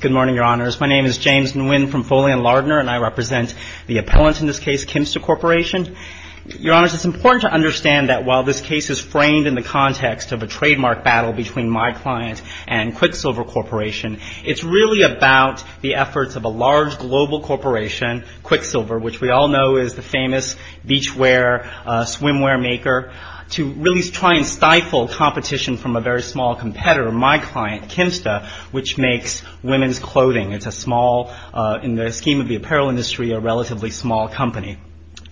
Good morning, Your Honors. My name is James Nguyen from Foley & Lardner, and I represent the appellant in this case, Kymsta Corporation. Your Honors, it's important to understand that while this case is framed in the context of a trademark battle between my client and Quiksilver Corporation, it's really about the efforts of a large global corporation, Quiksilver, which we all know is the famous beachwear, swimwear maker, to really try and stifle competition from a very small competitor, my client, Kymsta, which makes women's clothing. It's a small, in the scheme of the apparel industry, a relatively small company.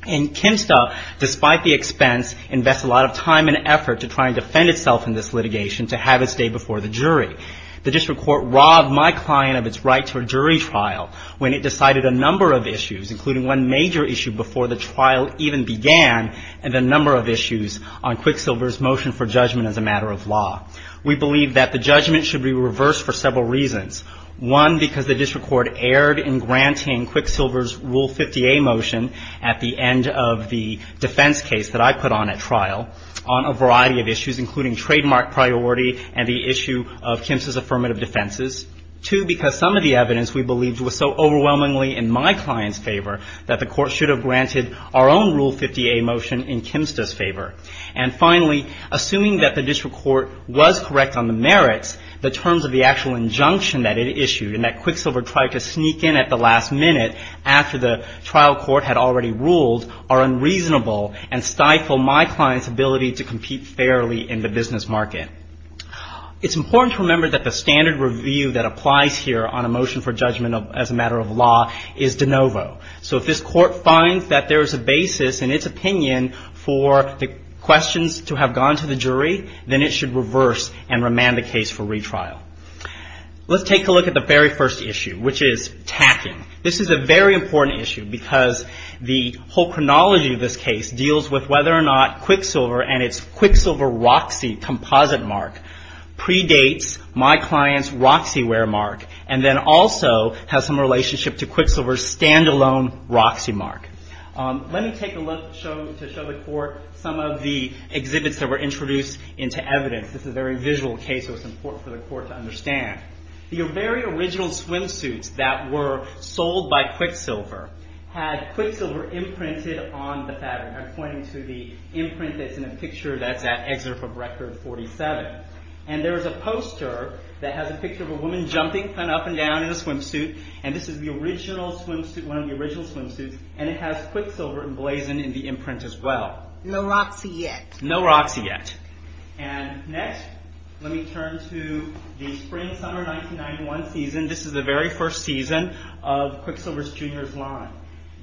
And Kymsta, despite the expense, invests a lot of time and effort to try and defend itself in this litigation to have its day before the jury. The district court robbed my client of its right to a jury trial when it decided a number of issues, including one major issue before the trial even began, and a number of issues on Quiksilver's motion for judgment as a matter of law. We believe that the judgment should be reversed for several reasons. One, because the district court erred in granting Quiksilver's Rule 50A motion at the end of the defense case that I put on at trial on a variety of issues, including trademark priority and the issue of Kymsta's affirmative defenses. Two, because some of the evidence we believed was so overwhelmingly in my client's favor that the court should have granted our own Rule 50A motion in Kymsta's favor. And finally, assuming that the district court was correct on the merits, the terms of the actual injunction that it issued and that Quiksilver tried to sneak in at the last minute after the trial court had already ruled are unreasonable and stifle my client's ability to compete fairly in the business market. It's important to remember that the standard review that applies here on a motion for judgment as a matter of law is de novo. So if this court finds that there is a basis in its opinion for the questions to have gone to the jury, then it should reverse and remand the case for retrial. Let's take a look at the very first issue, which is tacking. This is a very important issue because the whole chronology of this case deals with whether or not Quiksilver and its Quiksilver Roxy composite mark predates my client's Roxy wear mark and then also has some relationship to Quiksilver's standalone Roxy mark. Let me take a look to show the court some of the exhibits that were introduced into evidence. This is a very visual case, so it's important for the court to understand. The very original swimsuits that were sold by Quiksilver had Quiksilver imprinted on the fabric. I'm pointing to the imprint that's in a picture that's at excerpt from Record 47. There's a poster that has a picture of a woman jumping up and down in a swimsuit. This is one of the original swimsuits, and it has Quiksilver emblazoned in the imprint as well. No Roxy yet. No Roxy yet. Next, let me turn to the spring-summer 1991 season. This is the very first season of Quiksilver's Jr.'s line.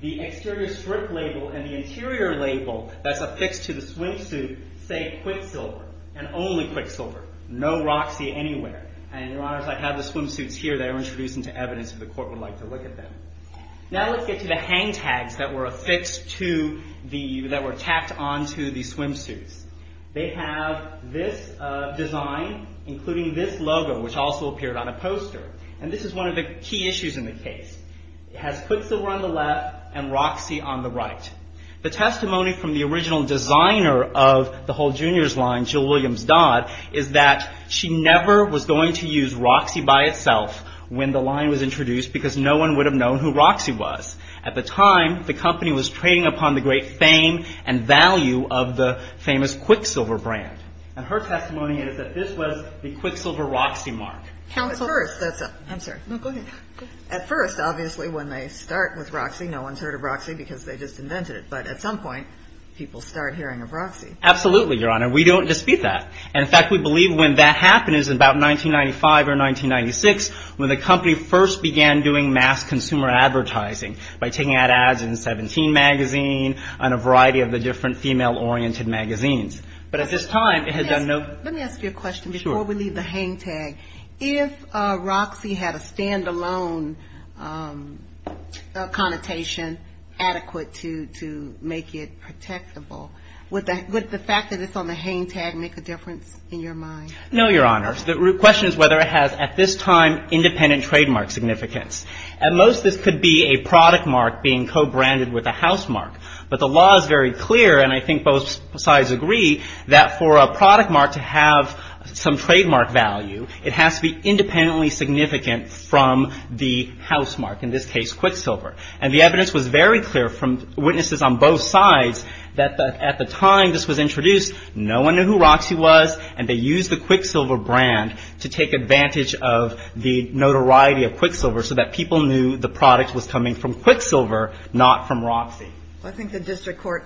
The exterior strip label and the interior label that's affixed to the swimsuit say Quiksilver, and only Quiksilver. No Roxy anywhere. And, Your Honors, I have the swimsuits here that were introduced into evidence if the court would like to look at them. Now let's get to the hang tags that were affixed to the, that were tapped onto the swimsuits. They have this design, including this logo, which also appeared on a poster. And this is one of the key issues in the case. It has Quiksilver on the left and Roxy on the right. The testimony from the original designer of the whole Jr.'s line, Jill Williams Dodd, is that she never was going to use Roxy by itself when the line was introduced because no one would have known who Roxy was. At the time, the company was trading upon the great fame and value of the famous Quiksilver brand. And her testimony is that this was the Quiksilver Roxy mark. I'm sorry. No, go ahead. At first, obviously, when they start with Roxy, no one's heard of Roxy because they just invented it. But at some point, people start hearing of Roxy. Absolutely, Your Honor. We don't dispute that. And, in fact, we believe when that happened is about 1995 or 1996 when the company first began doing mass consumer advertising by taking out ads in Seventeen magazine and a variety of the different female-oriented magazines. Let me ask you a question before we leave the hang tag. If Roxy had a stand-alone connotation adequate to make it protectable, would the fact that it's on the hang tag make a difference in your mind? No, Your Honor. The question is whether it has, at this time, independent trademark significance. At most, this could be a product mark being co-branded with a house mark. But the law is very clear, and I think both sides agree, that for a product mark to have some trademark value, it has to be independently significant from the house mark, in this case, Quicksilver. And the evidence was very clear from witnesses on both sides that at the time this was introduced, no one knew who Roxy was, and they used the Quicksilver brand to take advantage of the notoriety of Quicksilver so that people knew the product was coming from Quicksilver, not from Roxy. I think the district court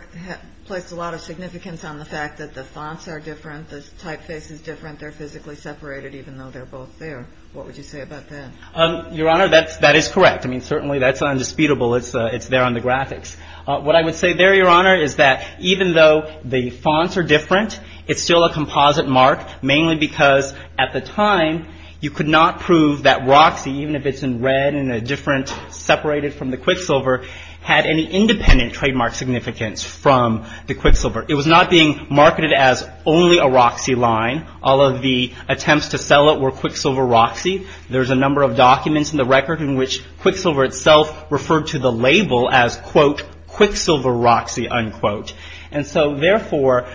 placed a lot of significance on the fact that the fonts are different, the typeface is different, they're physically separated, even though they're both there. What would you say about that? Your Honor, that is correct. I mean, certainly that's undisputable. It's there on the graphics. What I would say there, Your Honor, is that even though the fonts are different, it's still a composite mark, mainly because at the time, you could not prove that Roxy, even if it's in red and a different, separated from the Quicksilver, had any independent trademark significance from the Quicksilver. It was not being marketed as only a Roxy line. All of the attempts to sell it were Quicksilver Roxy. There's a number of documents in the record in which Quicksilver itself referred to the label as, quote, Quicksilver Roxy, unquote. And so, therefore,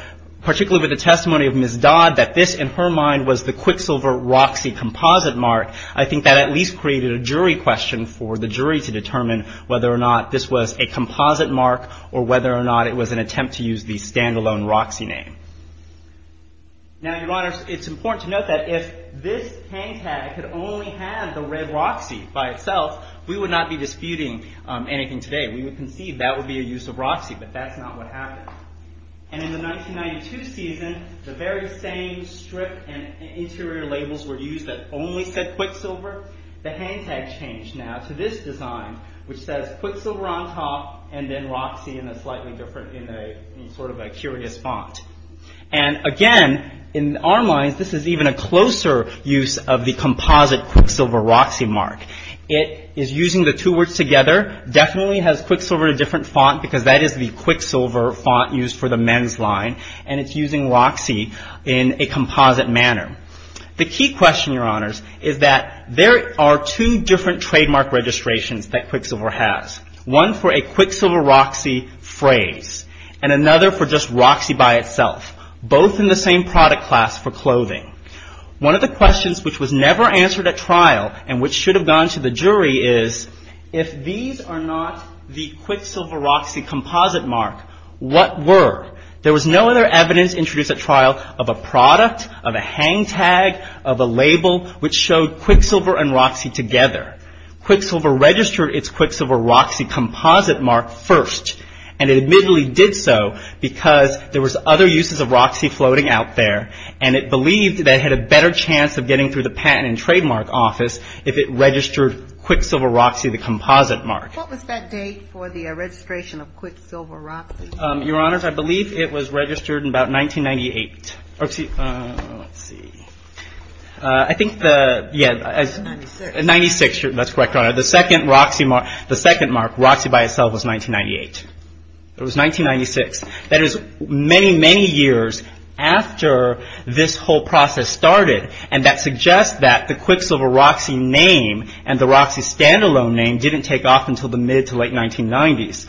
particularly with the testimony of Ms. Dodd, that this, in her mind, was the Quicksilver Roxy composite mark, I think that at least created a jury question for the jury to determine whether or not this was a composite mark, or whether or not it was an attempt to use the standalone Roxy name. Now, Your Honor, it's important to note that if this hang tag could only have the red Roxy by itself, we would not be disputing anything today. We would conceive that would be a use of Roxy, but that's not what happened. And in the 1992 season, the very same strip and interior labels were used that only said Quicksilver. The hang tag changed now to this design, which says Quicksilver on top and then Roxy in a slightly different, in sort of a curious font. And again, in our minds, this is even a closer use of the composite Quicksilver Roxy mark. It is using the two words together, definitely has Quicksilver in a different font because that is the Quicksilver font used for the men's line, and it's using Roxy in a composite manner. The key question, Your Honors, is that there are two different trademark registrations that Quicksilver has, one for a Quicksilver Roxy phrase and another for just Roxy by itself, both in the same product class for clothing. One of the questions which was never answered at trial and which should have gone to the jury is, if these are not the Quicksilver Roxy composite mark, what were? There was no other evidence introduced at trial of a product, of a hang tag, of a label which showed Quicksilver and Roxy together. Quicksilver registered its Quicksilver Roxy composite mark first, and it admittedly did so because there was other uses of Roxy floating out there, and it believed that it had a better chance of getting through the Patent and Trademark Office if it registered Quicksilver Roxy the composite mark. What was that date for the registration of Quicksilver Roxy? Your Honors, I believe it was registered in about 1998. Let's see. I think the, yeah. 1996. 1996, that's correct, Your Honor. The second Roxy, the second mark, Roxy by itself was 1998. It was 1996. That is many, many years after this whole process started, and that suggests that the Quicksilver Roxy name and the Roxy standalone name didn't take off until the mid to late 1990s.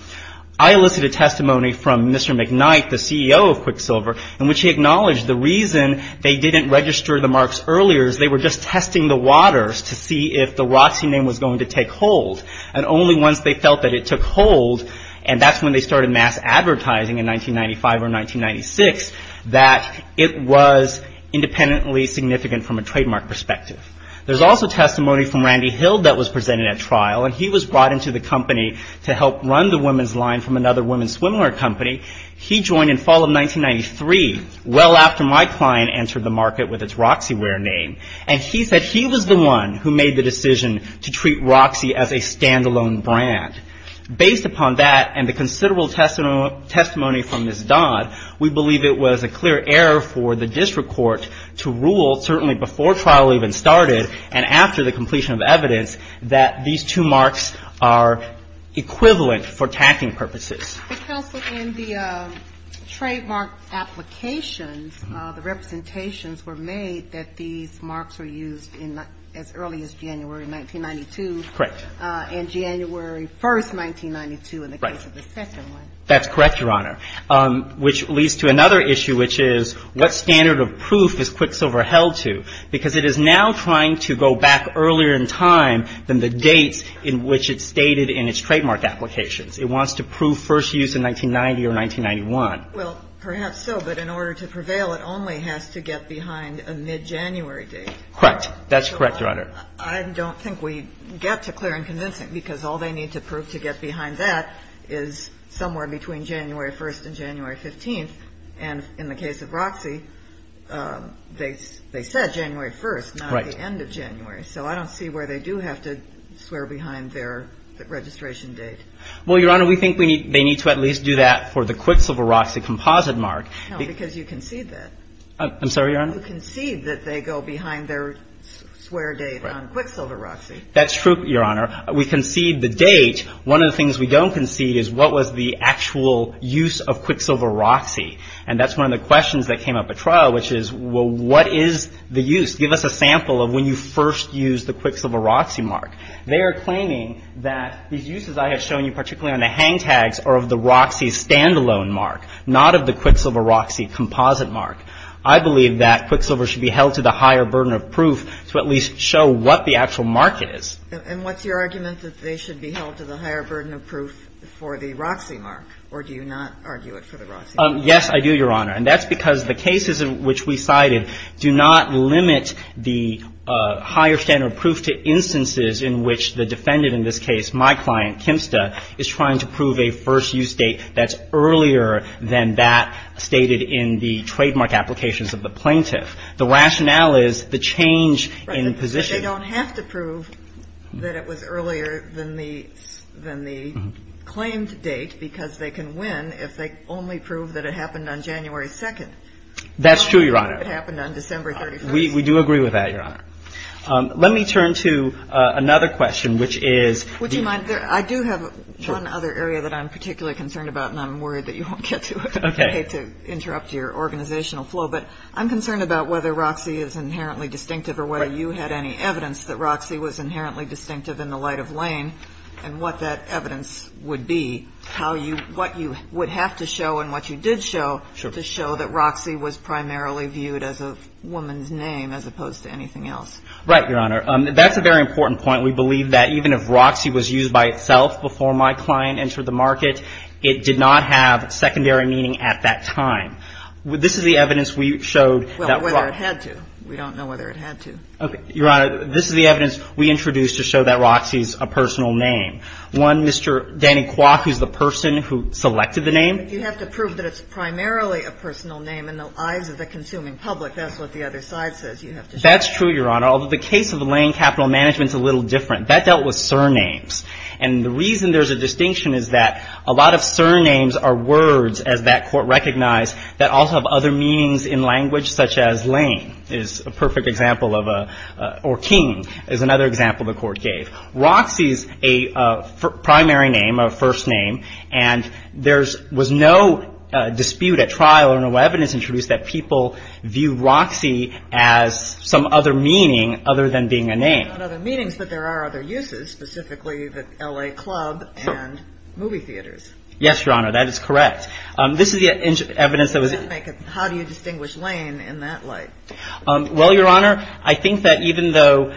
I elicited testimony from Mr. McKnight, the CEO of Quicksilver, in which he acknowledged the reason they didn't register the marks earlier is they were just testing the waters to see if the Roxy name was going to take hold, and only once they felt that it took hold, and that's when they started mass advertising in 1995 or 1996, that it was independently significant from a trademark perspective. There's also testimony from Randy Hill that was presented at trial, and he was brought into the company to help run the women's line from another women's swimwear company. He joined in fall of 1993, well after my client entered the market with its Roxyware name, and he said he was the one who made the decision to treat Roxy as a standalone brand. Based upon that and the considerable testimony from Ms. Dodd, we believe it was a clear error for the district court to rule, certainly before trial even started and after the completion of evidence, that these two marks are equivalent for tacking purposes. But, Counsel, in the trademark applications, the representations were made that these marks were used as early as January 1992. Correct. And January 1st, 1992 in the case of the second one. That's correct, Your Honor, which leads to another issue, which is what standard of proof is Quicksilver held to? Because it is now trying to go back earlier in time than the dates in which it stated in its trademark applications. It wants to prove first use in 1990 or 1991. Well, perhaps so. But in order to prevail, it only has to get behind a mid-January date. Correct. That's correct, Your Honor. I don't think we get to clear and convincing because all they need to prove to get behind that is somewhere between January 1st and January 15th. And in the case of Roxy, they said January 1st, not the end of January. Right. So I don't see where they do have to swear behind their registration date. Well, Your Honor, we think they need to at least do that for the Quicksilver Roxy composite mark. No, because you concede that. I'm sorry, Your Honor? You concede that they go behind their swear date on Quicksilver Roxy. That's true, Your Honor. We concede the date. One of the things we don't concede is what was the actual use of Quicksilver Roxy. And that's one of the questions that came up at trial, which is, well, what is the use? Give us a sample of when you first used the Quicksilver Roxy mark. They are claiming that these uses I have shown you, particularly on the hang tags, are of the Roxy standalone mark, not of the Quicksilver Roxy composite mark. I believe that Quicksilver should be held to the higher burden of proof to at least show what the actual mark is. And what's your argument that they should be held to the higher burden of proof for the Roxy mark? Or do you not argue it for the Roxy mark? Yes, I do, Your Honor. And that's because the cases in which we cited do not limit the higher standard of proof to instances in which the defendant in this case, my client, Kimsta, is trying to prove a first-use date that's earlier than that stated in the trademark applications of the plaintiff. The rationale is the change in position. Right. But they don't have to prove that it was earlier than the claimed date because they can win if they only prove that it happened on January 2nd. That's true, Your Honor. If it happened on December 31st. We do agree with that, Your Honor. Let me turn to another question, which is the ---- Would you mind? I do have one other area that I'm particularly concerned about, and I'm worried that you won't get to it. Okay. I hate to interrupt your organizational flow, but I'm concerned about whether Roxy is inherently distinctive or whether you had any evidence that Roxy was inherently distinctive in the light of Lane and what that evidence would be, how you ---- what you would have to show and what you did show to show that Roxy was primarily viewed as a woman's name as opposed to anything else. Right, Your Honor. That's a very important point. We believe that even if Roxy was used by itself before my client entered the market, it did not have secondary meaning at that time. This is the evidence we showed that ---- Well, whether it had to. We don't know whether it had to. Okay. Your Honor, this is the evidence we introduced to show that Roxy is a personal name. One, Mr. Danny Kwok, who's the person who selected the name. But you have to prove that it's primarily a personal name in the eyes of the consuming public. That's what the other side says. You have to show that. That's true, Your Honor, although the case of Lane Capital Management is a little different. That dealt with surnames. And the reason there's a distinction is that a lot of surnames are words, as that is another example the court gave. Roxy is a primary name, a first name. And there was no dispute at trial or no evidence introduced that people view Roxy as some other meaning other than being a name. Other meanings, but there are other uses, specifically the L.A. Club and movie theaters. Yes, Your Honor. That is correct. This is the evidence that was ---- How do you distinguish Lane in that light? Well, Your Honor, I think that even though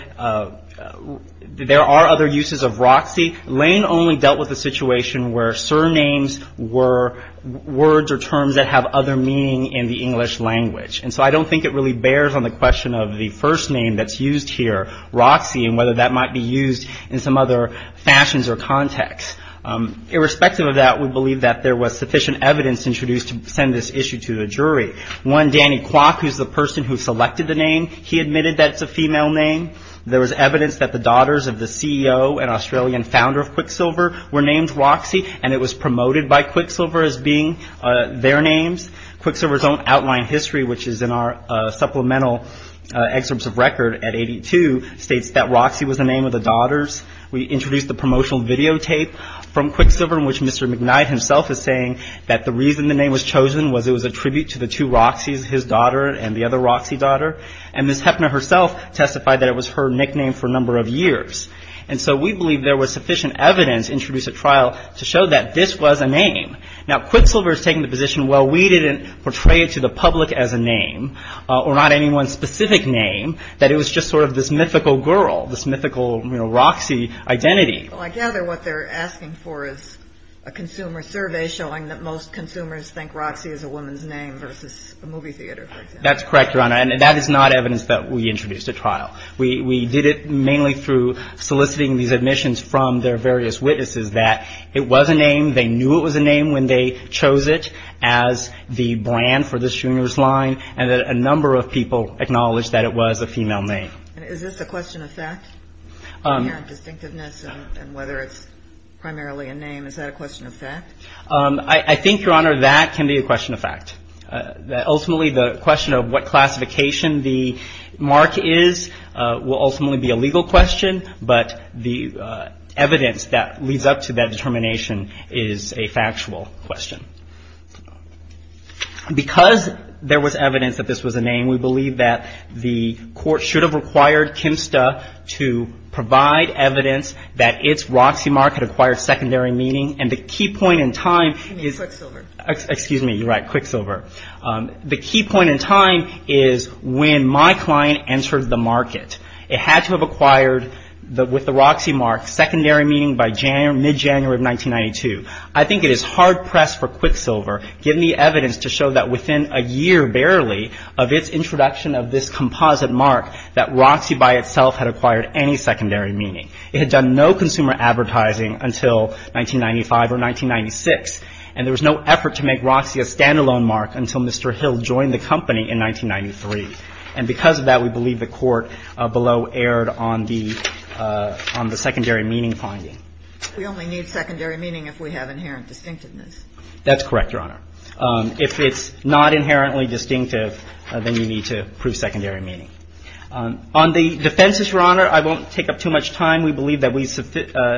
there are other uses of Roxy, Lane only dealt with a situation where surnames were words or terms that have other meaning in the English language. And so I don't think it really bears on the question of the first name that's used here, Roxy, and whether that might be used in some other fashions or context. Irrespective of that, we believe that there was sufficient evidence introduced to send this issue to the jury. One, Danny Kwok, who's the person who selected the name, he admitted that it's a female name. There was evidence that the daughters of the CEO and Australian founder of Quicksilver were named Roxy, and it was promoted by Quicksilver as being their names. Quicksilver's own outline history, which is in our supplemental excerpts of record at 82, states that Roxy was the name of the daughters. We introduced the promotional videotape from Quicksilver in which Mr. McKnight himself is saying that the reason the name was chosen was it was a reference to Roxy, his daughter, and the other Roxy daughter. And Ms. Heffner herself testified that it was her nickname for a number of years. And so we believe there was sufficient evidence introduced at trial to show that this was a name. Now, Quicksilver's taking the position, well, we didn't portray it to the public as a name or not anyone's specific name, that it was just sort of this mythical girl, this mythical, you know, Roxy identity. Well, I gather what they're asking for is a consumer survey showing that most That's correct, Your Honor. And that is not evidence that we introduced at trial. We did it mainly through soliciting these admissions from their various witnesses that it was a name, they knew it was a name when they chose it as the brand for this junior's line, and that a number of people acknowledged that it was a female name. Is this a question of fact, inherent distinctiveness and whether it's primarily a name? Is that a question of fact? I think, Your Honor, that can be a question of fact. Ultimately, the question of what classification the mark is will ultimately be a legal question, but the evidence that leads up to that determination is a factual question. Because there was evidence that this was a name, we believe that the court should have required KMSTA to provide evidence that its Roxy mark had acquired secondary meaning. And the key point in time is... You mean Quicksilver. Excuse me. You're right, Quicksilver. The key point in time is when my client entered the market. It had to have acquired, with the Roxy mark, secondary meaning by mid-January of 1992. I think it is hard press for Quicksilver, given the evidence, to show that within a year, barely, of its introduction of this composite mark, that Roxy by itself had acquired any secondary meaning. It had done no consumer advertising until 1995 or 1996, and there was no effort to make Roxy a standalone mark until Mr. Hill joined the company in 1993. And because of that, we believe the court below erred on the secondary meaning finding. We only need secondary meaning if we have inherent distinctiveness. That's correct, Your Honor. If it's not inherently distinctive, then you need to prove secondary meaning. On the defenses, Your Honor, I won't take up too much time. We believe that we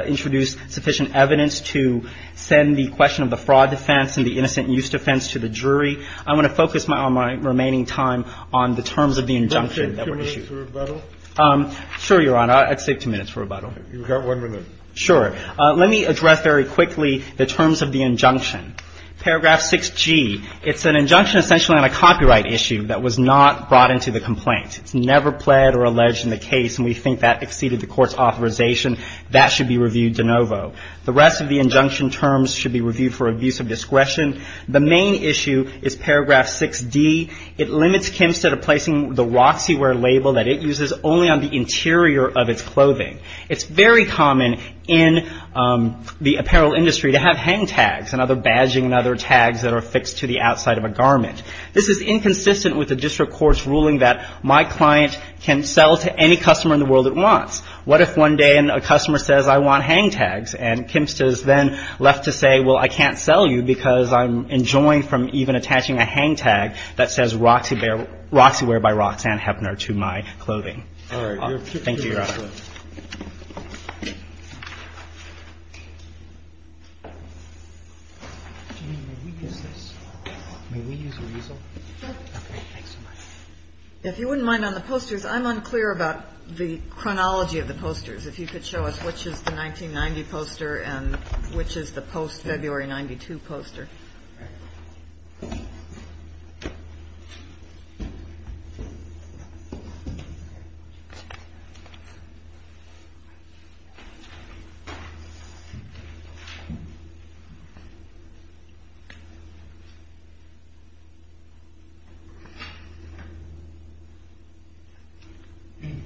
introduced sufficient evidence to send the question of the fraud defense and the innocent use defense to the jury. I want to focus my remaining time on the terms of the injunction that were issued. Can I take two minutes for rebuttal? Sure, Your Honor. I'll take two minutes for rebuttal. You've got one minute. Sure. Let me address very quickly the terms of the injunction. Paragraph 6G. It's an injunction essentially on a copyright issue that was not brought into the complaint. It's never pled or alleged in the case, and we think that exceeded the court's authorization. That should be reviewed de novo. The rest of the injunction terms should be reviewed for abuse of discretion. The main issue is paragraph 6D. It limits Kempstead to placing the Roxywear label that it uses only on the interior of its clothing. It's very common in the apparel industry to have hang tags and other badging and other tags that are affixed to the outside of a garment. This is inconsistent with the district court's ruling that my client can sell to any customer in the world it wants. What if one day a customer says, I want hang tags, and Kempstead is then left to say, well, I can't sell you because I'm enjoying from even attaching a hang tag that says Roxywear by Roxanne Heppner to my clothing. All right. Thank you, Your Honor. If you wouldn't mind, on the posters, I'm unclear about the chronology of the posters. If you could show us which is the 1990 poster and which is the post-February 92 poster. All right.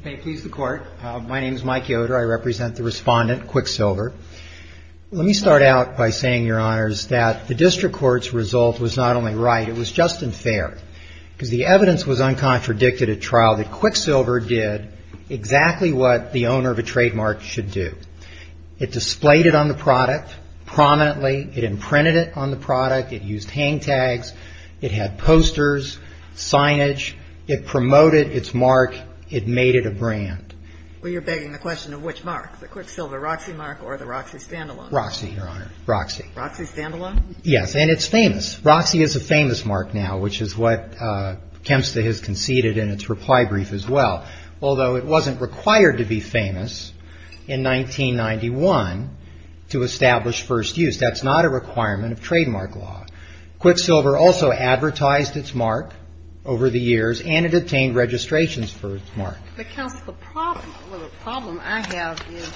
May it please the Court. My name is Mike Yoder. I represent the respondent, Quicksilver. Let me start out by saying, Your Honors, that the district court's result was not only right. It was just and fair because the evidence was uncontradicted at trial that Quicksilver did exactly what the owner of a trademark should do. It displayed it on the product prominently. It imprinted it on the product. It used hang tags. It had posters, signage. It promoted its mark. It made it a brand. Well, you're begging the question of which mark, the Quicksilver Roxy mark or the Roxy standalone? Roxy, Your Honor. Roxy. Roxy standalone? Yes, and it's famous. Roxy is a famous mark now, which is what Kempsta has conceded in its reply brief as well, although it wasn't required to be famous in 1991 to establish first use. That's not a requirement of trademark law. Quicksilver also advertised its mark over the years, and it obtained registrations for its mark. But, counsel, the problem I have is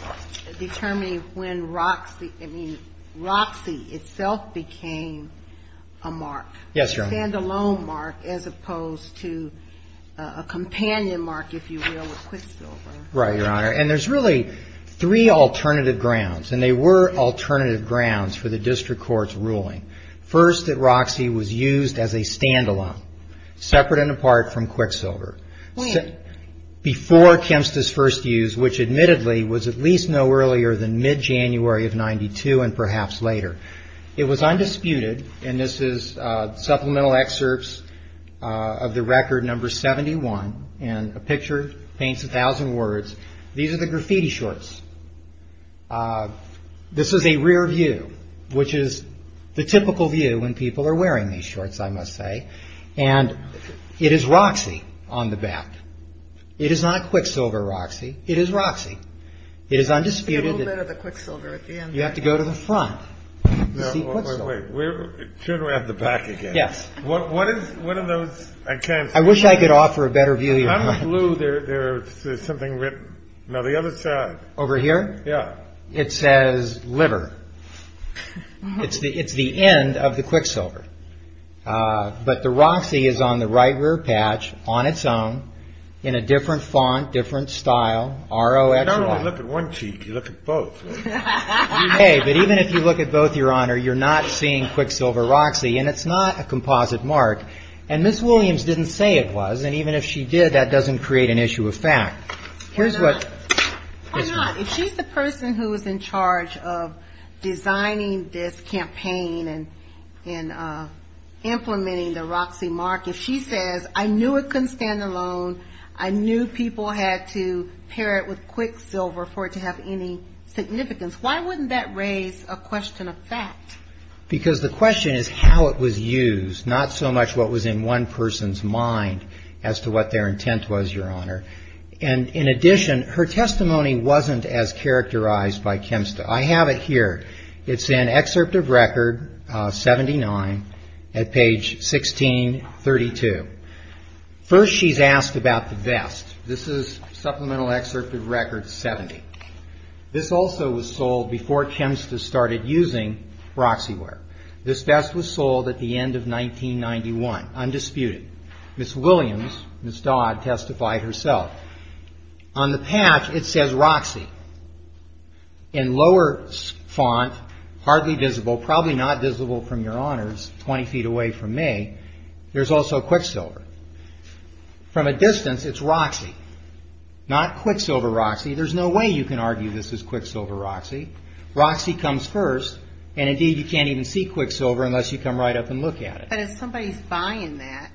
determining when Roxy, I mean, Roxy itself became a mark. Yes, Your Honor. A standalone mark as opposed to a companion mark, if you will, with Quicksilver. Right, Your Honor, and there's really three alternative grounds, and they were alternative grounds for the district court's ruling. First, that Roxy was used as a standalone, separate and apart from Quicksilver. Before Kempsta's first use, which admittedly was at least no earlier than mid-January of 92 and perhaps later. It was undisputed, and this is supplemental excerpts of the record number 71, and a picture paints a thousand words. These are the graffiti shorts. This is a rear view, which is the typical view when people are wearing these shorts, I must say. And it is Roxy on the back. It is not Quicksilver Roxy. It is Roxy. It is undisputed. Yes. I wish I could offer a better view. Over here, it says liver. It's the end of the Quicksilver. But the Roxy is on the right rear patch on its own in a different font, different style. You don't only look at one cheek, you look at both. But even if you look at both, Your Honor, you're not seeing Quicksilver Roxy, and it's not a composite mark. And Ms. Williams didn't say it was, and even if she did, that doesn't create an issue of fact. Why not? If she's the person who was in charge of designing this campaign and implementing the Roxy mark, if she says, I knew it couldn't stand alone, I knew people had to pair it with Quicksilver for it to have any significance, why wouldn't that raise a question of fact? Because the question is how it was used, not so much what was in one person's mind as to what their intent was, Your Honor. And in addition, her testimony wasn't as characterized by Kemp's. I have it here. It's in Excerpt of Record 79 at page 1632. First she's asked about the vest. This is Supplemental Excerpt of Record 70. This also was sold before Kemp's had started using Roxyware. This vest was sold at the end of 1991, undisputed. Ms. Williams, Ms. Dodd, testified herself. On the patch, it says Roxy. In lower font, hardly visible, probably not visible from Your Honors, 20 feet away from me, there's also Quicksilver. From a distance, it's Roxy, not Quicksilver Roxy. There's no way you can argue this is Quicksilver Roxy. Roxy comes first, and indeed you can't even see Quicksilver unless you come right up and look at it. But if somebody's buying that,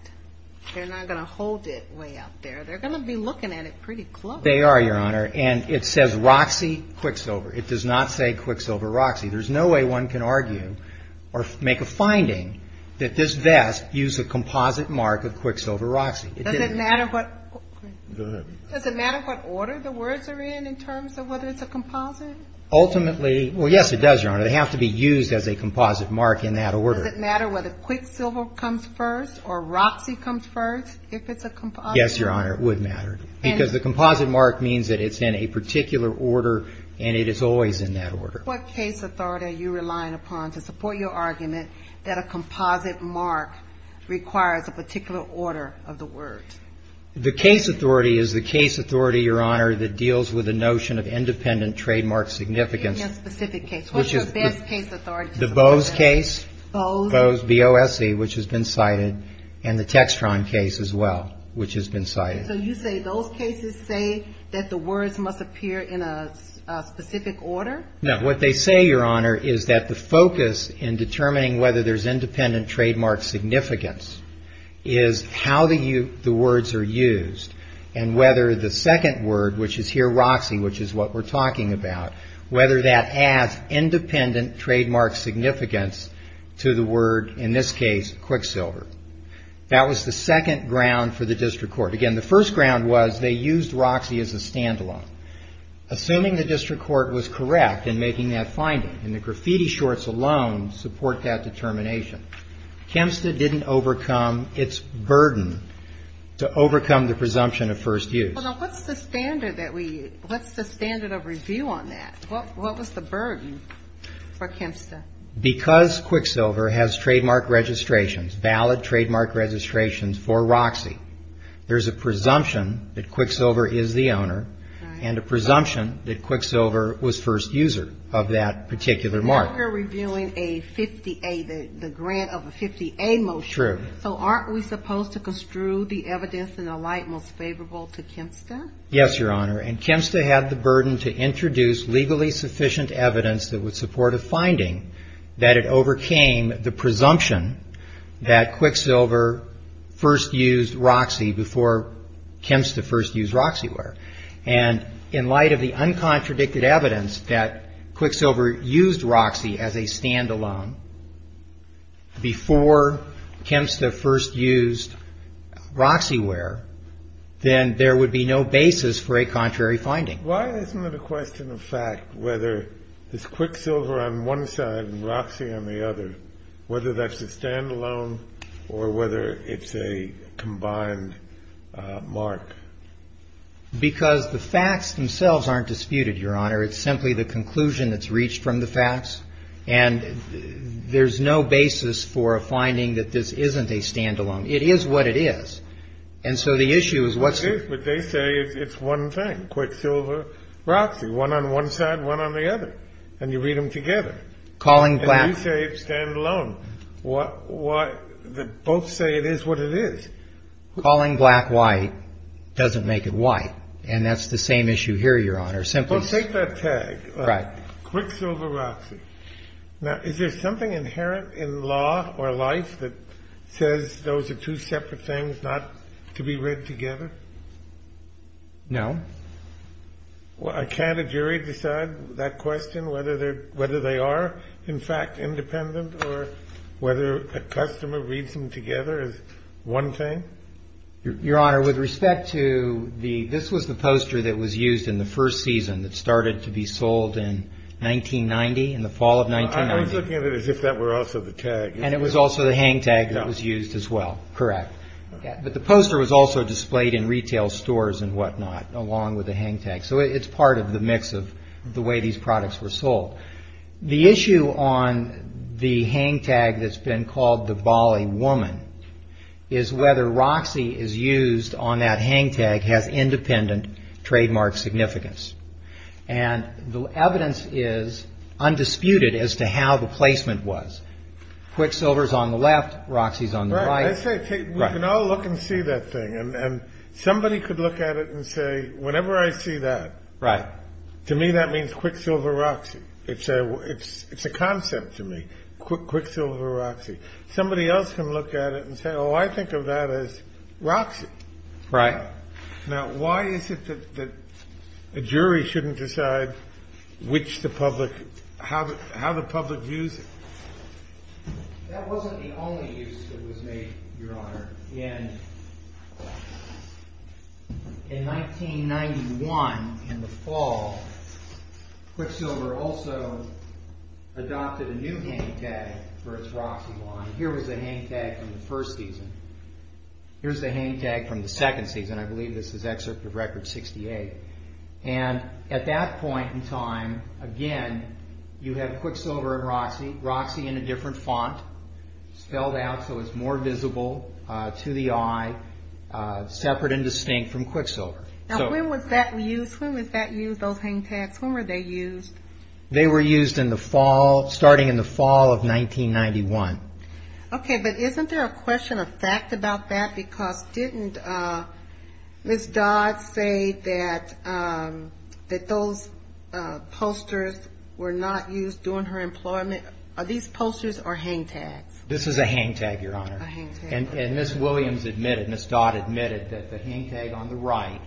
they're not going to hold it way up there. They're going to be looking at it pretty close. They are, Your Honor, and it says Roxy Quicksilver. It does not say Quicksilver Roxy. There's no way one can argue or make a finding that this vest used a composite mark of Quicksilver Roxy. Does it matter what order the words are in in terms of whether it's a composite? Ultimately, well, yes, it does, Your Honor. They have to be used as a composite mark in that order. Does it matter whether Quicksilver comes first or Roxy comes first if it's a composite? No, Your Honor, it would matter, because the composite mark means that it's in a particular order, and it is always in that order. What case authority are you relying upon to support your argument that a composite mark requires a particular order of the words? The case authority is the case authority, Your Honor, that deals with the notion of independent trademark significance. Give me a specific case. The Bose case, Bose, B-O-S-E, which has been cited, and the Textron case as well, which has been cited. So you say those cases say that the words must appear in a specific order? No. What they say, Your Honor, is that the focus in determining whether there's independent trademark significance is how the words are used, and whether the second word, which is here Roxy, which is what we're talking about, whether that adds independent trademark significance to the word, in this case, Quicksilver. That was the second ground for the district court. Again, the first ground was they used Roxy as a standalone, assuming the district court was correct in making that finding, and the graffiti shorts alone support that determination. Kempsta didn't overcome its burden to overcome the presumption of first use. Well, now, what's the standard of review on that? What was the burden for Kempsta? Because Quicksilver has trademark registrations, valid trademark registrations for Roxy, there's a presumption that Quicksilver is the owner, and a presumption that Quicksilver was first user of that particular mark. Now we're reviewing a 50A, the grant of a 50A motion. So aren't we supposed to construe the evidence in the light most favorable to Kempsta? Yes, Your Honor, and Kempsta had the burden to introduce legally sufficient evidence that would support a finding that it overcame the presumption that Quicksilver first used Roxy before Kempsta first used Roxyware. And in light of the uncontradicted evidence that Quicksilver used Roxy as a standalone before Kempsta first used Roxyware, then there would be no basis for a contrary finding. Why isn't it a question of fact whether this Quicksilver on one side and Roxy on the other, whether that's a standalone or whether it's a combined mark? Because the facts themselves aren't disputed, Your Honor. It's simply the conclusion that's reached from the facts. And there's no basis for a finding that this isn't a standalone. It is what it is. And so the issue is what's the issue? But they say it's one thing, Quicksilver, Roxy, one on one side, one on the other. And you read them together. And you say it's standalone. Both say it is what it is. Calling black white doesn't make it white. And that's the same issue here, Your Honor. Well, take that tag. Right. Quicksilver, Roxy. Now, is there something inherent in law or life that says those are two separate things not to be read together? No. Well, can't a jury decide that question, whether they are, in fact, independent or whether a customer reads them together as one thing? Your Honor, with respect to the this was the poster that was used in the first season that started to be sold in 1990, in the fall of 1990. I was looking at it as if that were also the tag. And it was also the hang tag that was used as well. Correct. But the poster was also displayed in retail stores and whatnot along with the hang tag. So it's part of the mix of the way these products were sold. The issue on the hang tag that's been called the Bali woman is whether Roxy is used on that hang tag has independent trademark significance. And the evidence is undisputed as to how the placement was. Quicksilver is on the left. Roxy is on the right. Right. We can all look and see that thing. And somebody could look at it and say, whenever I see that. Right. To me, that means Quicksilver Roxy. It's a concept to me. Quicksilver Roxy. Somebody else can look at it and say, oh, I think of that as Roxy. Right. Now, why is it that a jury shouldn't decide how the public views it? That wasn't the only use that was made, Your Honor. In 1991, in the fall, Quicksilver also adopted a new hang tag for its Roxy line. Here was the hang tag from the first season. Here's the hang tag from the second season. I believe this is Excerpt of Record 68. And at that point in time, again, you have Quicksilver and Roxy. Roxy in a different font. Spelled out so it's more visible to the eye. Separate and distinct from Quicksilver. Now, when was that used? When was that used, those hang tags? When were they used? They were used in the fall, starting in the fall of 1991. Okay, but isn't there a question of fact about that? Because didn't Ms. Dodd say that those posters were not used during her employment? Are these posters or hang tags? This is a hang tag, Your Honor. A hang tag. And Ms. Williams admitted, Ms. Dodd admitted that the hang tag on the right,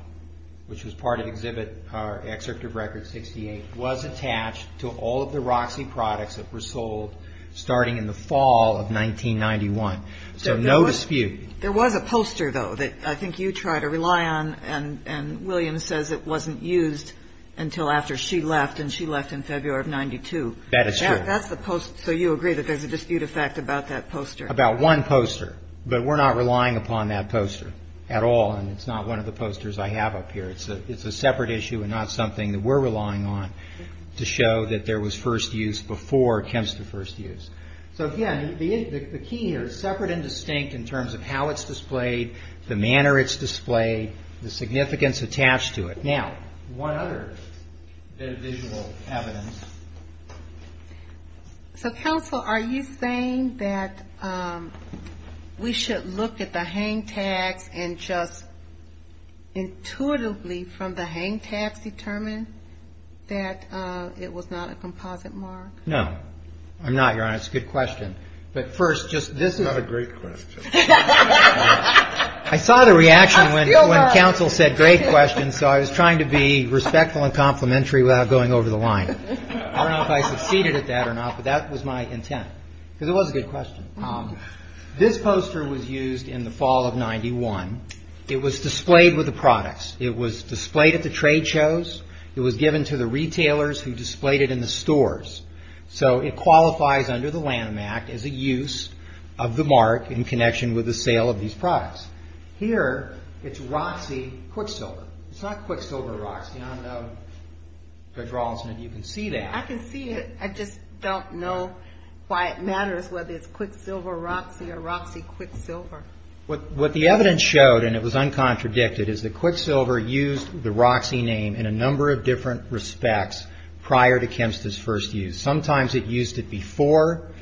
which was part of Excerpt of Record 68, was attached to all of the Roxy products that were sold starting in the fall of 1991. So no dispute. There was a poster, though, that I think you try to rely on, and Williams says it wasn't used until after she left, and she left in February of 92. That is true. That's the poster. So you agree that there's a dispute of fact about that poster? About one poster. But we're not relying upon that poster at all, and it's not one of the posters I have up here. It's a separate issue and not something that we're relying on to show that there was first use before chemistry first use. So, again, the key here is separate and distinct in terms of how it's displayed, the manner it's displayed, the significance attached to it. Now, one other bit of visual evidence. So, counsel, are you saying that we should look at the hang tags and just intuitively from the hang tags determine that it was not a composite mark? No. I'm not, Your Honor. It's a good question. It's not a great question. I saw the reaction when counsel said great question, so I was trying to be respectful and complimentary without going over the line. I don't know if I succeeded at that or not, but that was my intent. Because it was a good question. This poster was used in the fall of 91. It was displayed with the products. It was displayed at the trade shows. It was given to the retailers who displayed it in the stores. So it qualifies under the Lanham Act as a use of the mark in connection with the sale of these products. Here it's Roxy Quicksilver. It's not Quicksilver Roxy. I don't know, Judge Rawlinson, if you can see that. I can see it. I just don't know why it matters whether it's Quicksilver Roxy or Roxy Quicksilver. What the evidence showed, and it was uncontradicted, is that Quicksilver used the Roxy name in a number of different respects prior to Kemp's first use. Sometimes it used it before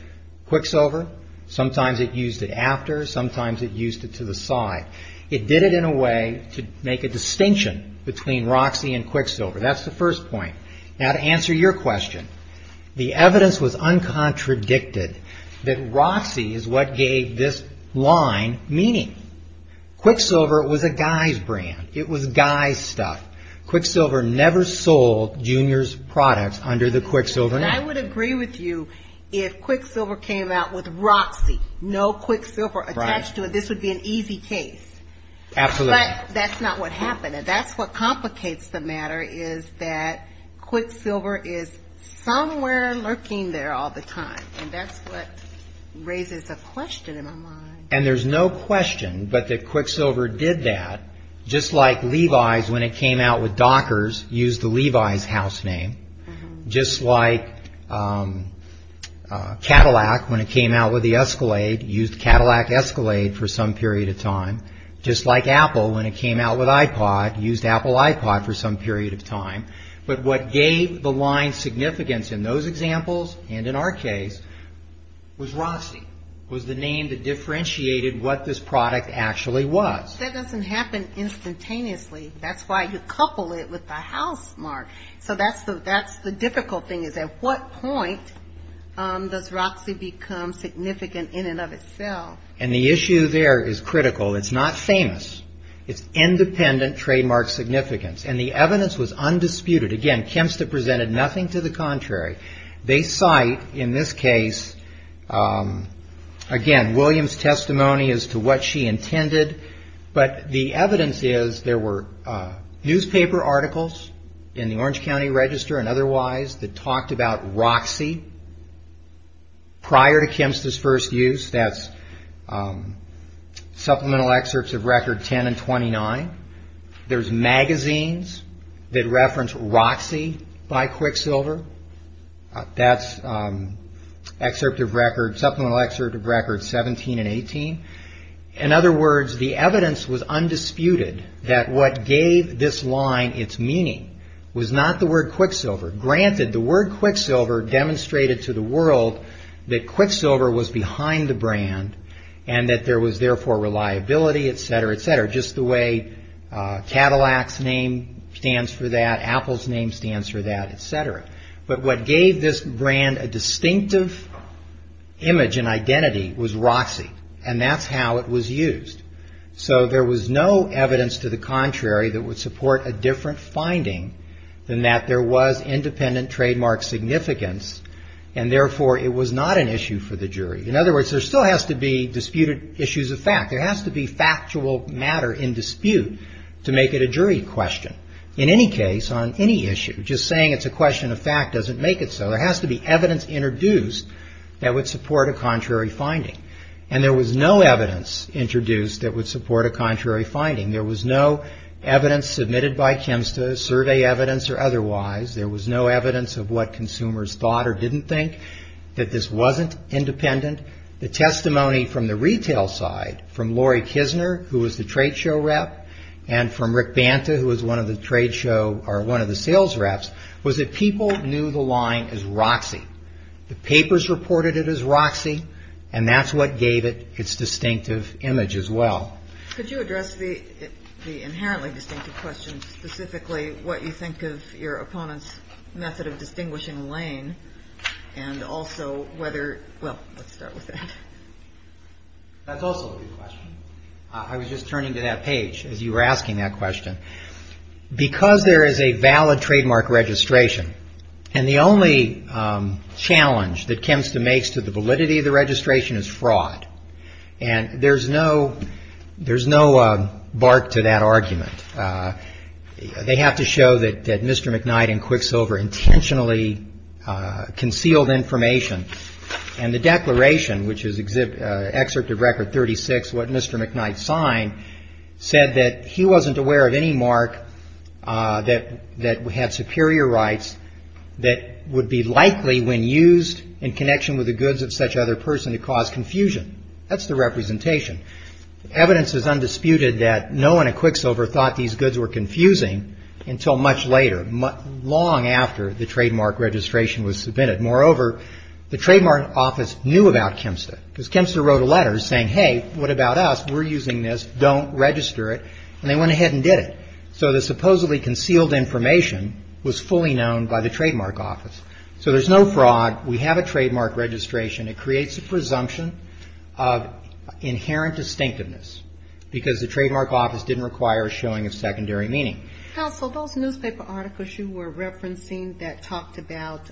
Quicksilver. Sometimes it used it after. Sometimes it used it to the side. It did it in a way to make a distinction between Roxy and Quicksilver. That's the first point. Now, to answer your question, the evidence was uncontradicted that Roxy is what gave this line meaning. Quicksilver was a guy's brand. It was guy's stuff. Quicksilver never sold Junior's products under the Quicksilver name. I would agree with you if Quicksilver came out with Roxy, no Quicksilver attached to it. This would be an easy case. Absolutely. But that's not what happened, and that's what complicates the matter, is that Quicksilver is somewhere lurking there all the time, and that's what raises a question in my mind. And there's no question but that Quicksilver did that, just like Levi's, when it came out with Dockers, used the Levi's house name, just like Cadillac, when it came out with the Escalade, used Cadillac Escalade for some period of time, just like Apple, when it came out with iPod, used Apple iPod for some period of time. But what gave the line significance in those examples and in our case was Roxy. It was the name that differentiated what this product actually was. That doesn't happen instantaneously. That's why you couple it with the house mark. So that's the difficult thing is at what point does Roxy become significant in and of itself. And the issue there is critical. It's not famous. It's independent trademark significance, and the evidence was undisputed. Again, Kempsta presented nothing to the contrary. They cite, in this case, again, Williams' testimony as to what she intended, but the evidence is there were newspaper articles in the Orange County Register and otherwise that talked about Roxy prior to Kempsta's first use. That's supplemental excerpts of record 10 and 29. There's magazines that reference Roxy by Quicksilver. That's supplemental excerpt of record 17 and 18. In other words, the evidence was undisputed that what gave this line its meaning was not the word Quicksilver. Granted, the word Quicksilver demonstrated to the world that Quicksilver was behind the brand and that there was therefore reliability, et cetera, et cetera, just the way Cadillac's name stands for that, Apple's name stands for that, et cetera. But what gave this brand a distinctive image and identity was Roxy, and that's how it was used. So there was no evidence to the contrary that would support a different finding than that there was independent trademark significance, and therefore it was not an issue for the jury. In other words, there still has to be disputed issues of fact. There has to be factual matter in dispute to make it a jury question. In any case, on any issue, just saying it's a question of fact doesn't make it so. There has to be evidence introduced that would support a contrary finding, and there was no evidence introduced that would support a contrary finding. There was no evidence submitted by Kempsta, survey evidence or otherwise. There was no evidence of what consumers thought or didn't think, that this wasn't independent. The testimony from the retail side, from Lori Kisner, who was the trade show rep, and from Rick Banta, who was one of the sales reps, was that people knew the line as Roxy. The papers reported it as Roxy, and that's what gave it its distinctive image as well. Could you address the inherently distinctive question, specifically what you think of your opponent's method of distinguishing a lane, and also whether, well, let's start with that. That's also a good question. I was just turning to that page as you were asking that question. Because there is a valid trademark registration, and the only challenge that Kempsta makes to the validity of the registration is fraud, and there's no bark to that argument. They have to show that Mr. McKnight and Quicksilver intentionally concealed information, and the declaration, which is excerpt of Record 36, what Mr. McKnight signed, said that he wasn't aware of any mark that had superior rights that would be likely, when used in connection with the goods of such other person, to cause confusion. That's the representation. Evidence is undisputed that no one at Quicksilver thought these goods were confusing until much later, long after the trademark registration was submitted. Moreover, the trademark office knew about Kempsta, because Kempsta wrote a letter saying, hey, what about us? We're using this. Don't register it. And they went ahead and did it. So the supposedly concealed information was fully known by the trademark office. So there's no fraud. We have a trademark registration. It creates a presumption of inherent distinctiveness, because the trademark office didn't require a showing of secondary meaning. Counsel, those newspaper articles you were referencing that talked about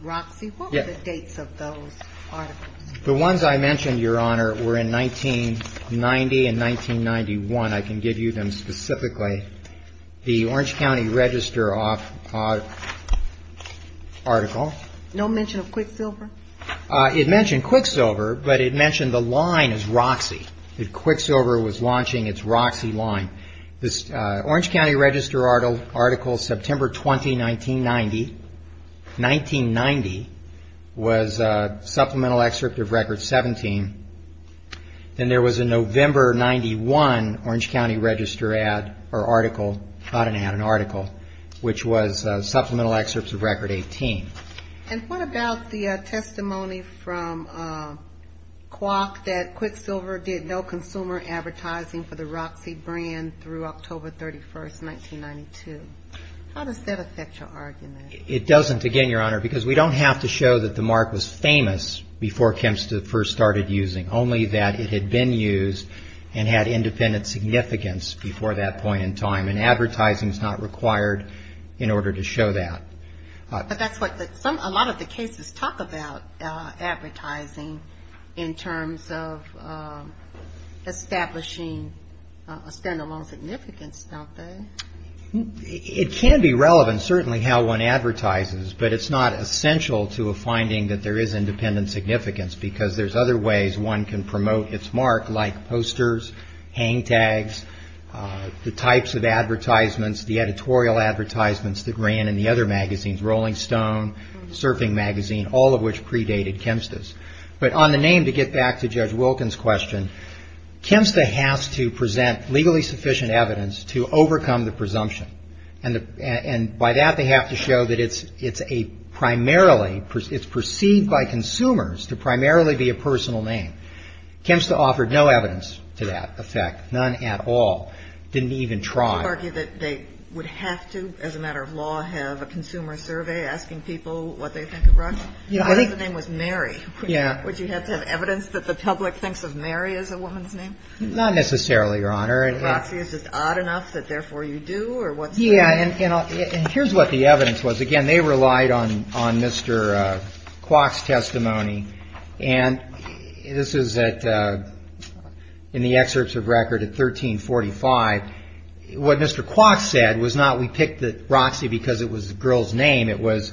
Roxy, what were the dates of those articles? The ones I mentioned, Your Honor, were in 1990 and 1991. I can give you them specifically. The Orange County Register article. No mention of Quicksilver? It mentioned Quicksilver, but it mentioned the line as Roxy. Quicksilver was launching its Roxy line. This Orange County Register article, September 20, 1990, 1990 was a supplemental excerpt of Record 17. Then there was a November 91 Orange County Register ad or article, not an ad, an article, which was supplemental excerpts of Record 18. And what about the testimony from Quock that Quicksilver did no consumer advertising for the Roxy brand through October 31, 1992? How does that affect your argument? It doesn't, again, Your Honor, because we don't have to show that the mark was famous before Kemps first started using, only that it had been used and had independent significance before that point in time. And advertising is not required in order to show that. But that's what a lot of the cases talk about advertising in terms of establishing a standalone significance, don't they? It can be relevant, certainly how one advertises, but it's not essential to a finding that there is independent significance because there's other ways one can promote its mark, like posters, hang tags, the types of advertisements, the editorial advertisements that ran in the other magazines, Rolling Stone, Surfing Magazine, all of which predated Kemps's. But on the name, to get back to Judge Wilkins' question, Kemps has to present legally sufficient evidence to overcome the presumption. And by that, they have to show that it's a primarily, it's perceived by consumers to primarily be a personal name. Kemps offered no evidence to that effect, none at all. Didn't even try. Would you argue that they would have to, as a matter of law, have a consumer survey asking people what they think of Roxy? If the name was Mary, would you have to have evidence that the public thinks of Mary as a woman's name? Not necessarily, Your Honor. Roxy is just odd enough that therefore you do? Yeah, and here's what the evidence was. Again, they relied on Mr. Kwok's testimony. And this is in the excerpts of record at 1345. What Mr. Kwok said was not we picked Roxy because it was a girl's name. It was,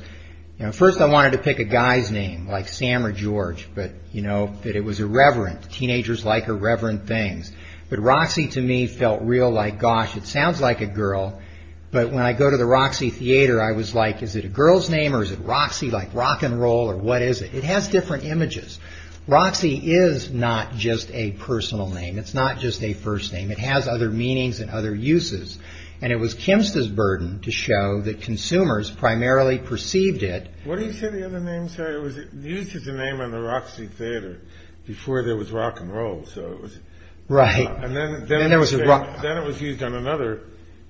you know, first I wanted to pick a guy's name, like Sam or George, but, you know, that it was irreverent. Teenagers like irreverent things. But Roxy to me felt real like, gosh, it sounds like a girl. But when I go to the Roxy Theater, I was like, is it a girl's name or is it Roxy, like rock and roll or what is it? It has different images. Roxy is not just a personal name. It's not just a first name. It has other meanings and other uses. And it was Kemp's burden to show that consumers primarily perceived it. What do you say the other names are? It was used as a name on the Roxy Theater before there was rock and roll. Right. And then it was used on another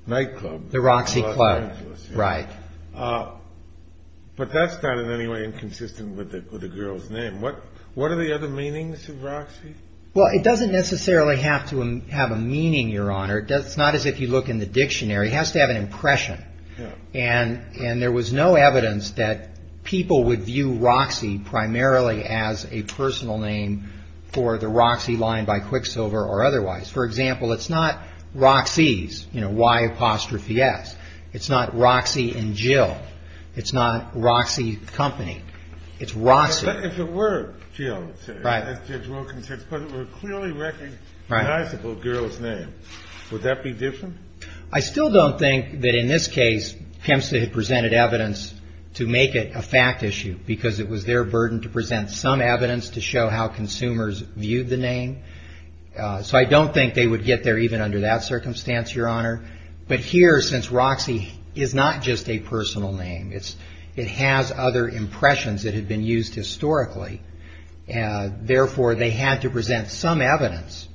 nightclub. The Roxy Club. Right. But that's not in any way inconsistent with a girl's name. What are the other meanings of Roxy? Well, it doesn't necessarily have to have a meaning, Your Honor. It's not as if you look in the dictionary. It has to have an impression. And there was no evidence that people would view Roxy primarily as a personal name for the Roxy line by Quicksilver or otherwise. For example, it's not Roxy's, you know, Y apostrophe S. It's not Roxy and Jill. It's not Roxy Company. It's Roxy. But if it were Jill, as Judge Wilkins said, Right. Would that be different? I still don't think that in this case, Kempstead had presented evidence to make it a fact issue because it was their burden to present some evidence to show how consumers viewed the name. So I don't think they would get there even under that circumstance, Your Honor. But here, since Roxy is not just a personal name, it has other impressions that had been used historically. Therefore, they had to present some evidence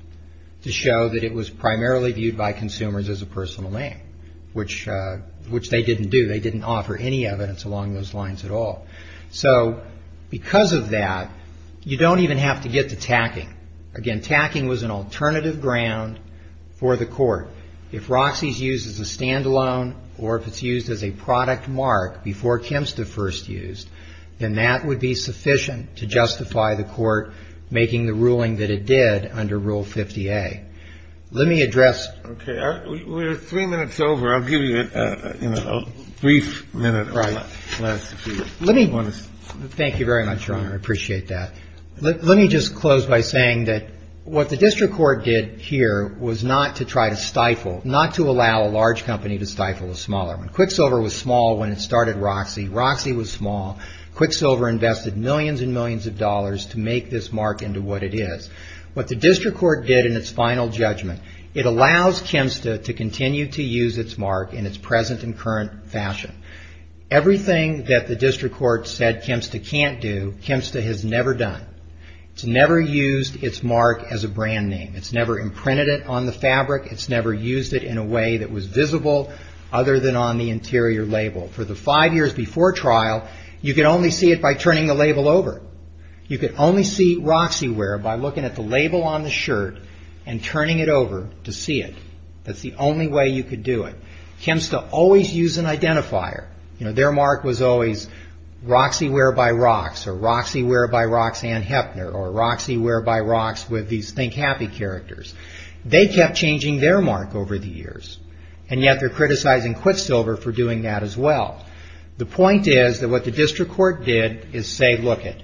to show that it was primarily viewed by consumers as a personal name, which they didn't do. They didn't offer any evidence along those lines at all. So because of that, you don't even have to get to tacking. Again, tacking was an alternative ground for the court. If Roxy is used as a standalone or if it's used as a product mark before Kempstead first used, then that would be sufficient to justify the court making the ruling that it did under Rule 50A. Let me address. Okay. We're three minutes over. I'll give you a brief minute or less. Let me. Thank you very much, Your Honor. I appreciate that. Let me just close by saying that what the district court did here was not to try to stifle, not to allow a large company to stifle a smaller one. Quicksilver was small when it started Roxy. Roxy was small. Quicksilver invested millions and millions of dollars to make this mark into what it is. What the district court did in its final judgment, it allows Kempstead to continue to use its mark in its present and current fashion. Everything that the district court said Kempstead can't do, Kempstead has never done. It's never used its mark as a brand name. It's never imprinted it on the fabric. It's never used it in a way that was visible other than on the interior label. For the five years before trial, you could only see it by turning the label over. You could only see Roxyware by looking at the label on the shirt and turning it over to see it. That's the only way you could do it. Kempstead always used an identifier. Their mark was always Roxyware by Rox, or Roxyware by Roxanne Heppner, or Roxyware by Rox with these Think Happy characters. They kept changing their mark over the years, and yet they're criticizing Quicksilver for doing that as well. The point is that what the district court did is say, look it,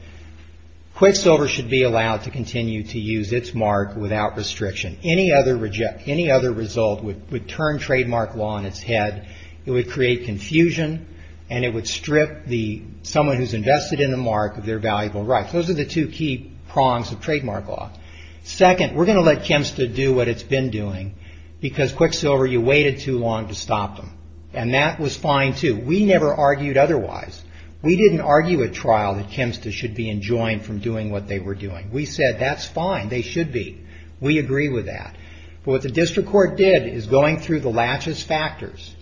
Quicksilver should be allowed to continue to use its mark without restriction. Any other result would turn trademark law on its head. It would create confusion, and it would strip someone who's invested in the mark of their valuable rights. Those are the two key prongs of trademark law. Second, we're going to let Kempstead do what it's been doing because Quicksilver, you waited too long to stop them, and that was fine too. We never argued otherwise. We didn't argue at trial that Kempstead should be enjoined from doing what they were doing. We said that's fine. They should be. We agree with that. But what the district court did is going through the laches factors,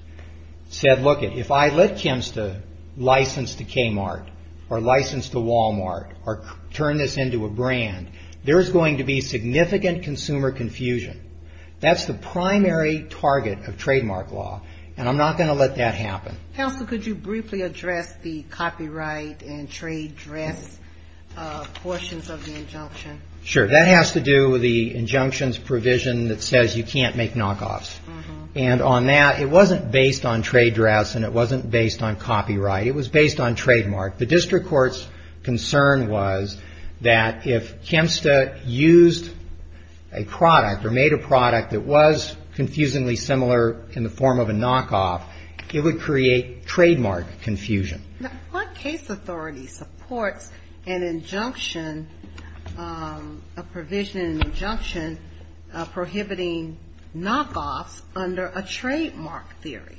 said, look it, if I let Kempstead license to Kmart or license to Walmart or turn this into a brand, there's going to be significant consumer confusion. That's the primary target of trademark law, and I'm not going to let that happen. Counsel, could you briefly address the copyright and trade dress portions of the injunction? Sure. That has to do with the injunctions provision that says you can't make knockoffs. And on that, it wasn't based on trade dress and it wasn't based on copyright. It was based on trademark. The district court's concern was that if Kempstead used a product or made a product that was confusingly similar in the form of a knockoff, it would create trademark confusion. Now, what case authority supports an injunction, a provision, an injunction prohibiting knockoffs under a trademark theory?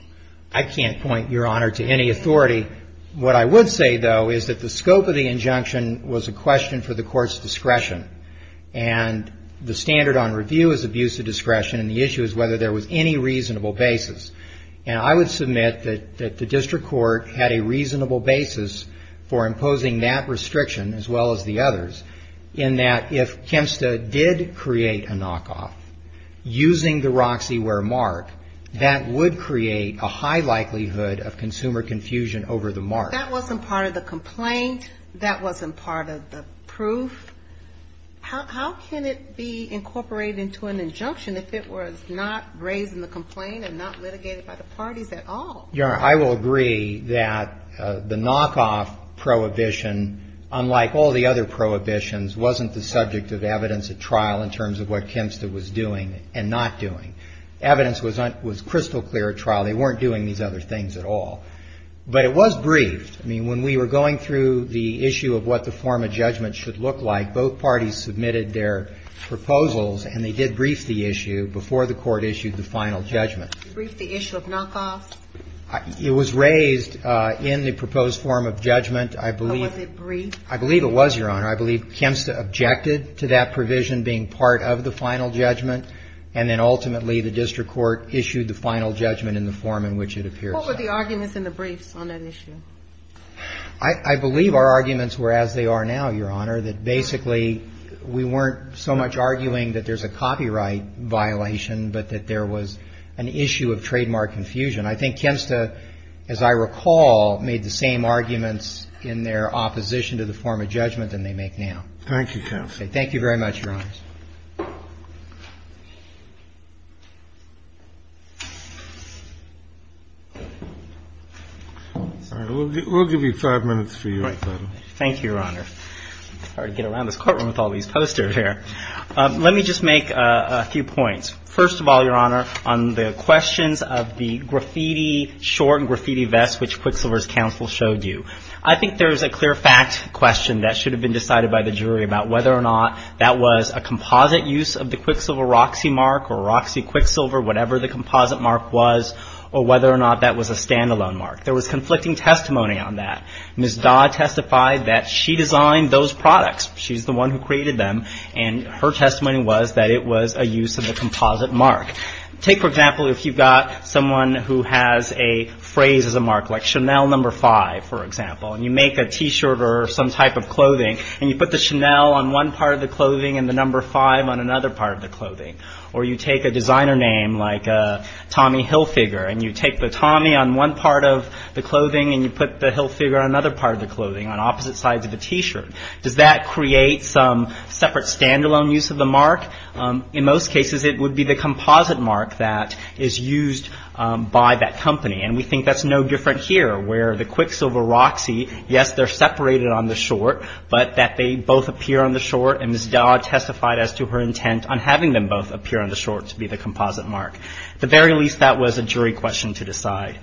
What I would say, though, is that the scope of the injunction was a question for the court's discretion. And the standard on review is abuse of discretion, and the issue is whether there was any reasonable basis. And I would submit that the district court had a reasonable basis for imposing that restriction, as well as the others, in that if Kempstead did create a knockoff using the Roxyware mark, that would create a high likelihood of consumer confusion over the mark. That wasn't part of the complaint. That wasn't part of the proof. How can it be incorporated into an injunction if it was not raised in the complaint and not litigated by the parties at all? Your Honor, I will agree that the knockoff prohibition, unlike all the other prohibitions, wasn't the subject of evidence at trial in terms of what Kempstead was doing and not doing. Evidence was crystal clear at trial. They weren't doing these other things at all. But it was briefed. I mean, when we were going through the issue of what the form of judgment should look like, both parties submitted their proposals, and they did brief the issue before the court issued the final judgment. Briefed the issue of knockoff? It was raised in the proposed form of judgment. I believe it was, Your Honor. I believe Kempstead objected to that provision being part of the final judgment, and then ultimately the district court issued the final judgment in the form in which it appears. What were the arguments in the briefs on that issue? I believe our arguments were as they are now, Your Honor, that basically we weren't so much arguing that there's a copyright violation, but that there was an issue of trademark confusion. I think Kempstead, as I recall, made the same arguments in their opposition to the form of judgment than they make now. Thank you, counsel. Thank you very much, Your Honor. We'll give you five minutes for your question. Thank you, Your Honor. Sorry to get around this courtroom with all these posters here. Let me just make a few points. First of all, Your Honor, on the questions of the short and graffiti vest which Quicksilver's counsel showed you, I think there's a clear fact question that should have been decided by the jury about whether or not that was a composite use of the Quicksilver Roxy mark or Roxy Quicksilver, whatever the composite mark was, or whether or not that was a stand-alone mark. There was conflicting testimony on that. Ms. Dodd testified that she designed those products. She's the one who created them, and her testimony was that it was a use of the composite mark. Take, for example, if you've got someone who has a phrase as a mark, like Chanel number five, for example, and you make a T-shirt or some type of clothing and you put the Chanel on one part of the clothing and the number five on another part of the clothing, or you take a designer name like Tommy Hilfiger and you take the Tommy on one part of the clothing and you put the Hilfiger on another part of the clothing on opposite sides of the T-shirt. Does that create some separate stand-alone use of the mark? In most cases, it would be the composite mark that is used by that company. And we think that's no different here, where the Quicksilver Roxy, yes, they're separated on the short, but that they both appear on the short, and Ms. Dodd testified as to her intent on having them both appear on the short to be the composite mark. At the very least, that was a jury question to decide.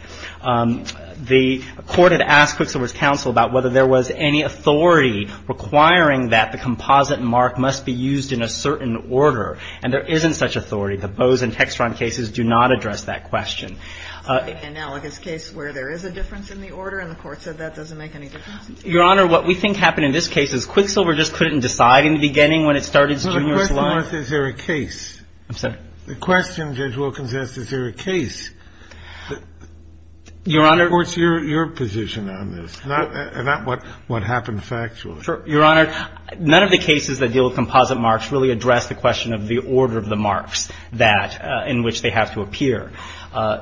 The court had asked Quicksilver's counsel about whether there was any authority requiring that the composite mark must be used in a certain order, and there isn't such authority. The Bose and Hexron cases do not address that question. In the analogous case where there is a difference in the order and the court said that doesn't make any difference? Your Honor, what we think happened in this case is Quicksilver just couldn't decide in the beginning when it started its junior's life. Is there a case? I'm sorry? The question Judge Wilkins asked, is there a case? Your Honor. What's your position on this? Not what happened factually. Your Honor, none of the cases that deal with composite marks really address the question of the order of the marks that in which they have to appear.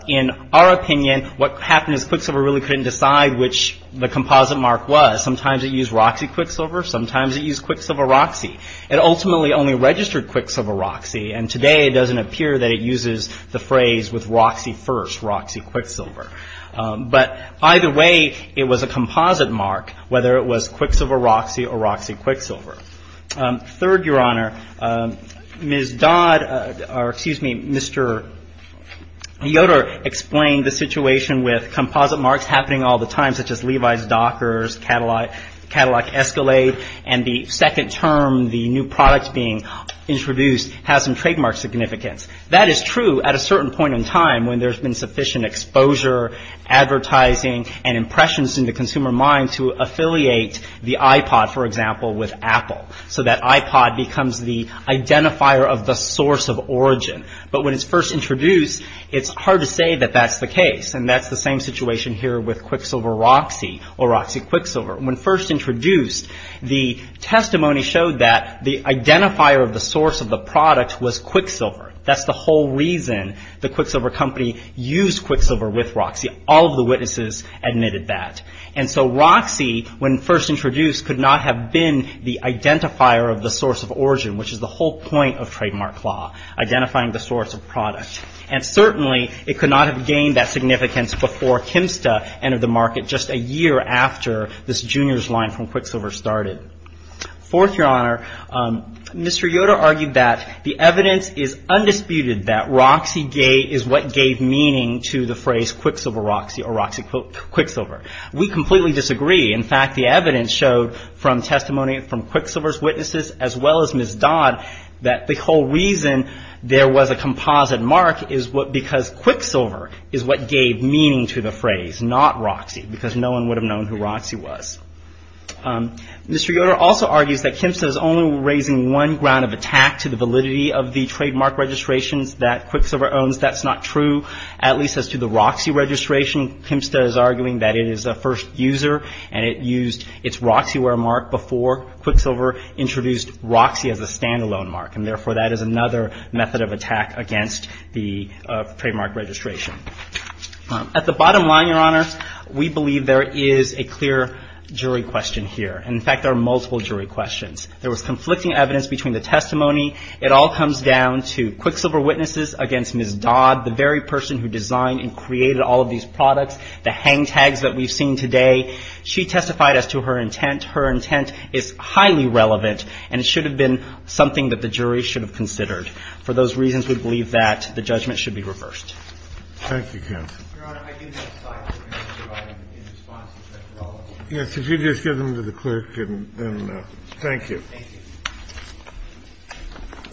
In our opinion, what happened is Quicksilver really couldn't decide which the composite mark was. Sometimes it used Roxy Quicksilver. Sometimes it used Quicksilver Roxy. It ultimately only registered Quicksilver Roxy, and today it doesn't appear that it uses the phrase with Roxy first, Roxy Quicksilver. But either way, it was a composite mark, whether it was Quicksilver Roxy or Roxy Quicksilver. Third, Your Honor, Ms. Dodd or, excuse me, Mr. Yoder explained the situation with composite marks happening all the time, such as Levi's Dockers, Cadillac Escalade, and the second term, the new product being introduced, has some trademark significance. That is true at a certain point in time when there's been sufficient exposure, advertising, and impressions in the consumer mind to affiliate the iPod, for example, with Apple. So that iPod becomes the identifier of the source of origin. But when it's first introduced, it's hard to say that that's the case, and that's the same situation here with Quicksilver Roxy or Roxy Quicksilver. When first introduced, the testimony showed that the identifier of the source of the product was Quicksilver. That's the whole reason the Quicksilver company used Quicksilver with Roxy. All of the witnesses admitted that. And so Roxy, when first introduced, could not have been the identifier of the source of origin, which is the whole point of trademark law, identifying the source of product. And certainly, it could not have gained that significance before Kimsta entered the market just a year after this Junior's line from Quicksilver started. Fourth, Your Honor, Mr. Yoder argued that the evidence is undisputed that Roxy is what gave meaning to the phrase Quicksilver Roxy or Roxy Quicksilver. We completely disagree. In fact, the evidence showed from testimony from Quicksilver's witnesses, as well as Ms. Dodd, that the whole reason there was a composite mark is because Quicksilver is what gave meaning to the phrase, not Roxy, because no one would have known who Roxy was. Mr. Yoder also argues that Kimsta is only raising one ground of attack to the validity of the trademark registrations that Quicksilver owns. That's not true, at least as to the Roxy registration. Kimsta is arguing that it is a first user and it used its Roxyware mark before Quicksilver introduced Roxy as a stand-alone mark. And therefore, that is another method of attack against the trademark registration. At the bottom line, Your Honor, we believe there is a clear jury question here. In fact, there are multiple jury questions. There was conflicting evidence between the testimony. It all comes down to Quicksilver witnesses against Ms. Dodd, the very person who designed and created all of these products, the hang tags that we've seen today. She testified as to her intent. Her intent is highly relevant, and it should have been something that the jury should have considered. For those reasons, we believe that the judgment should be reversed. Thank you, counsel. Your Honor, I did have five different answers provided in response to the question. Yes. If you could just give them to the clerk and thank you. Thank you.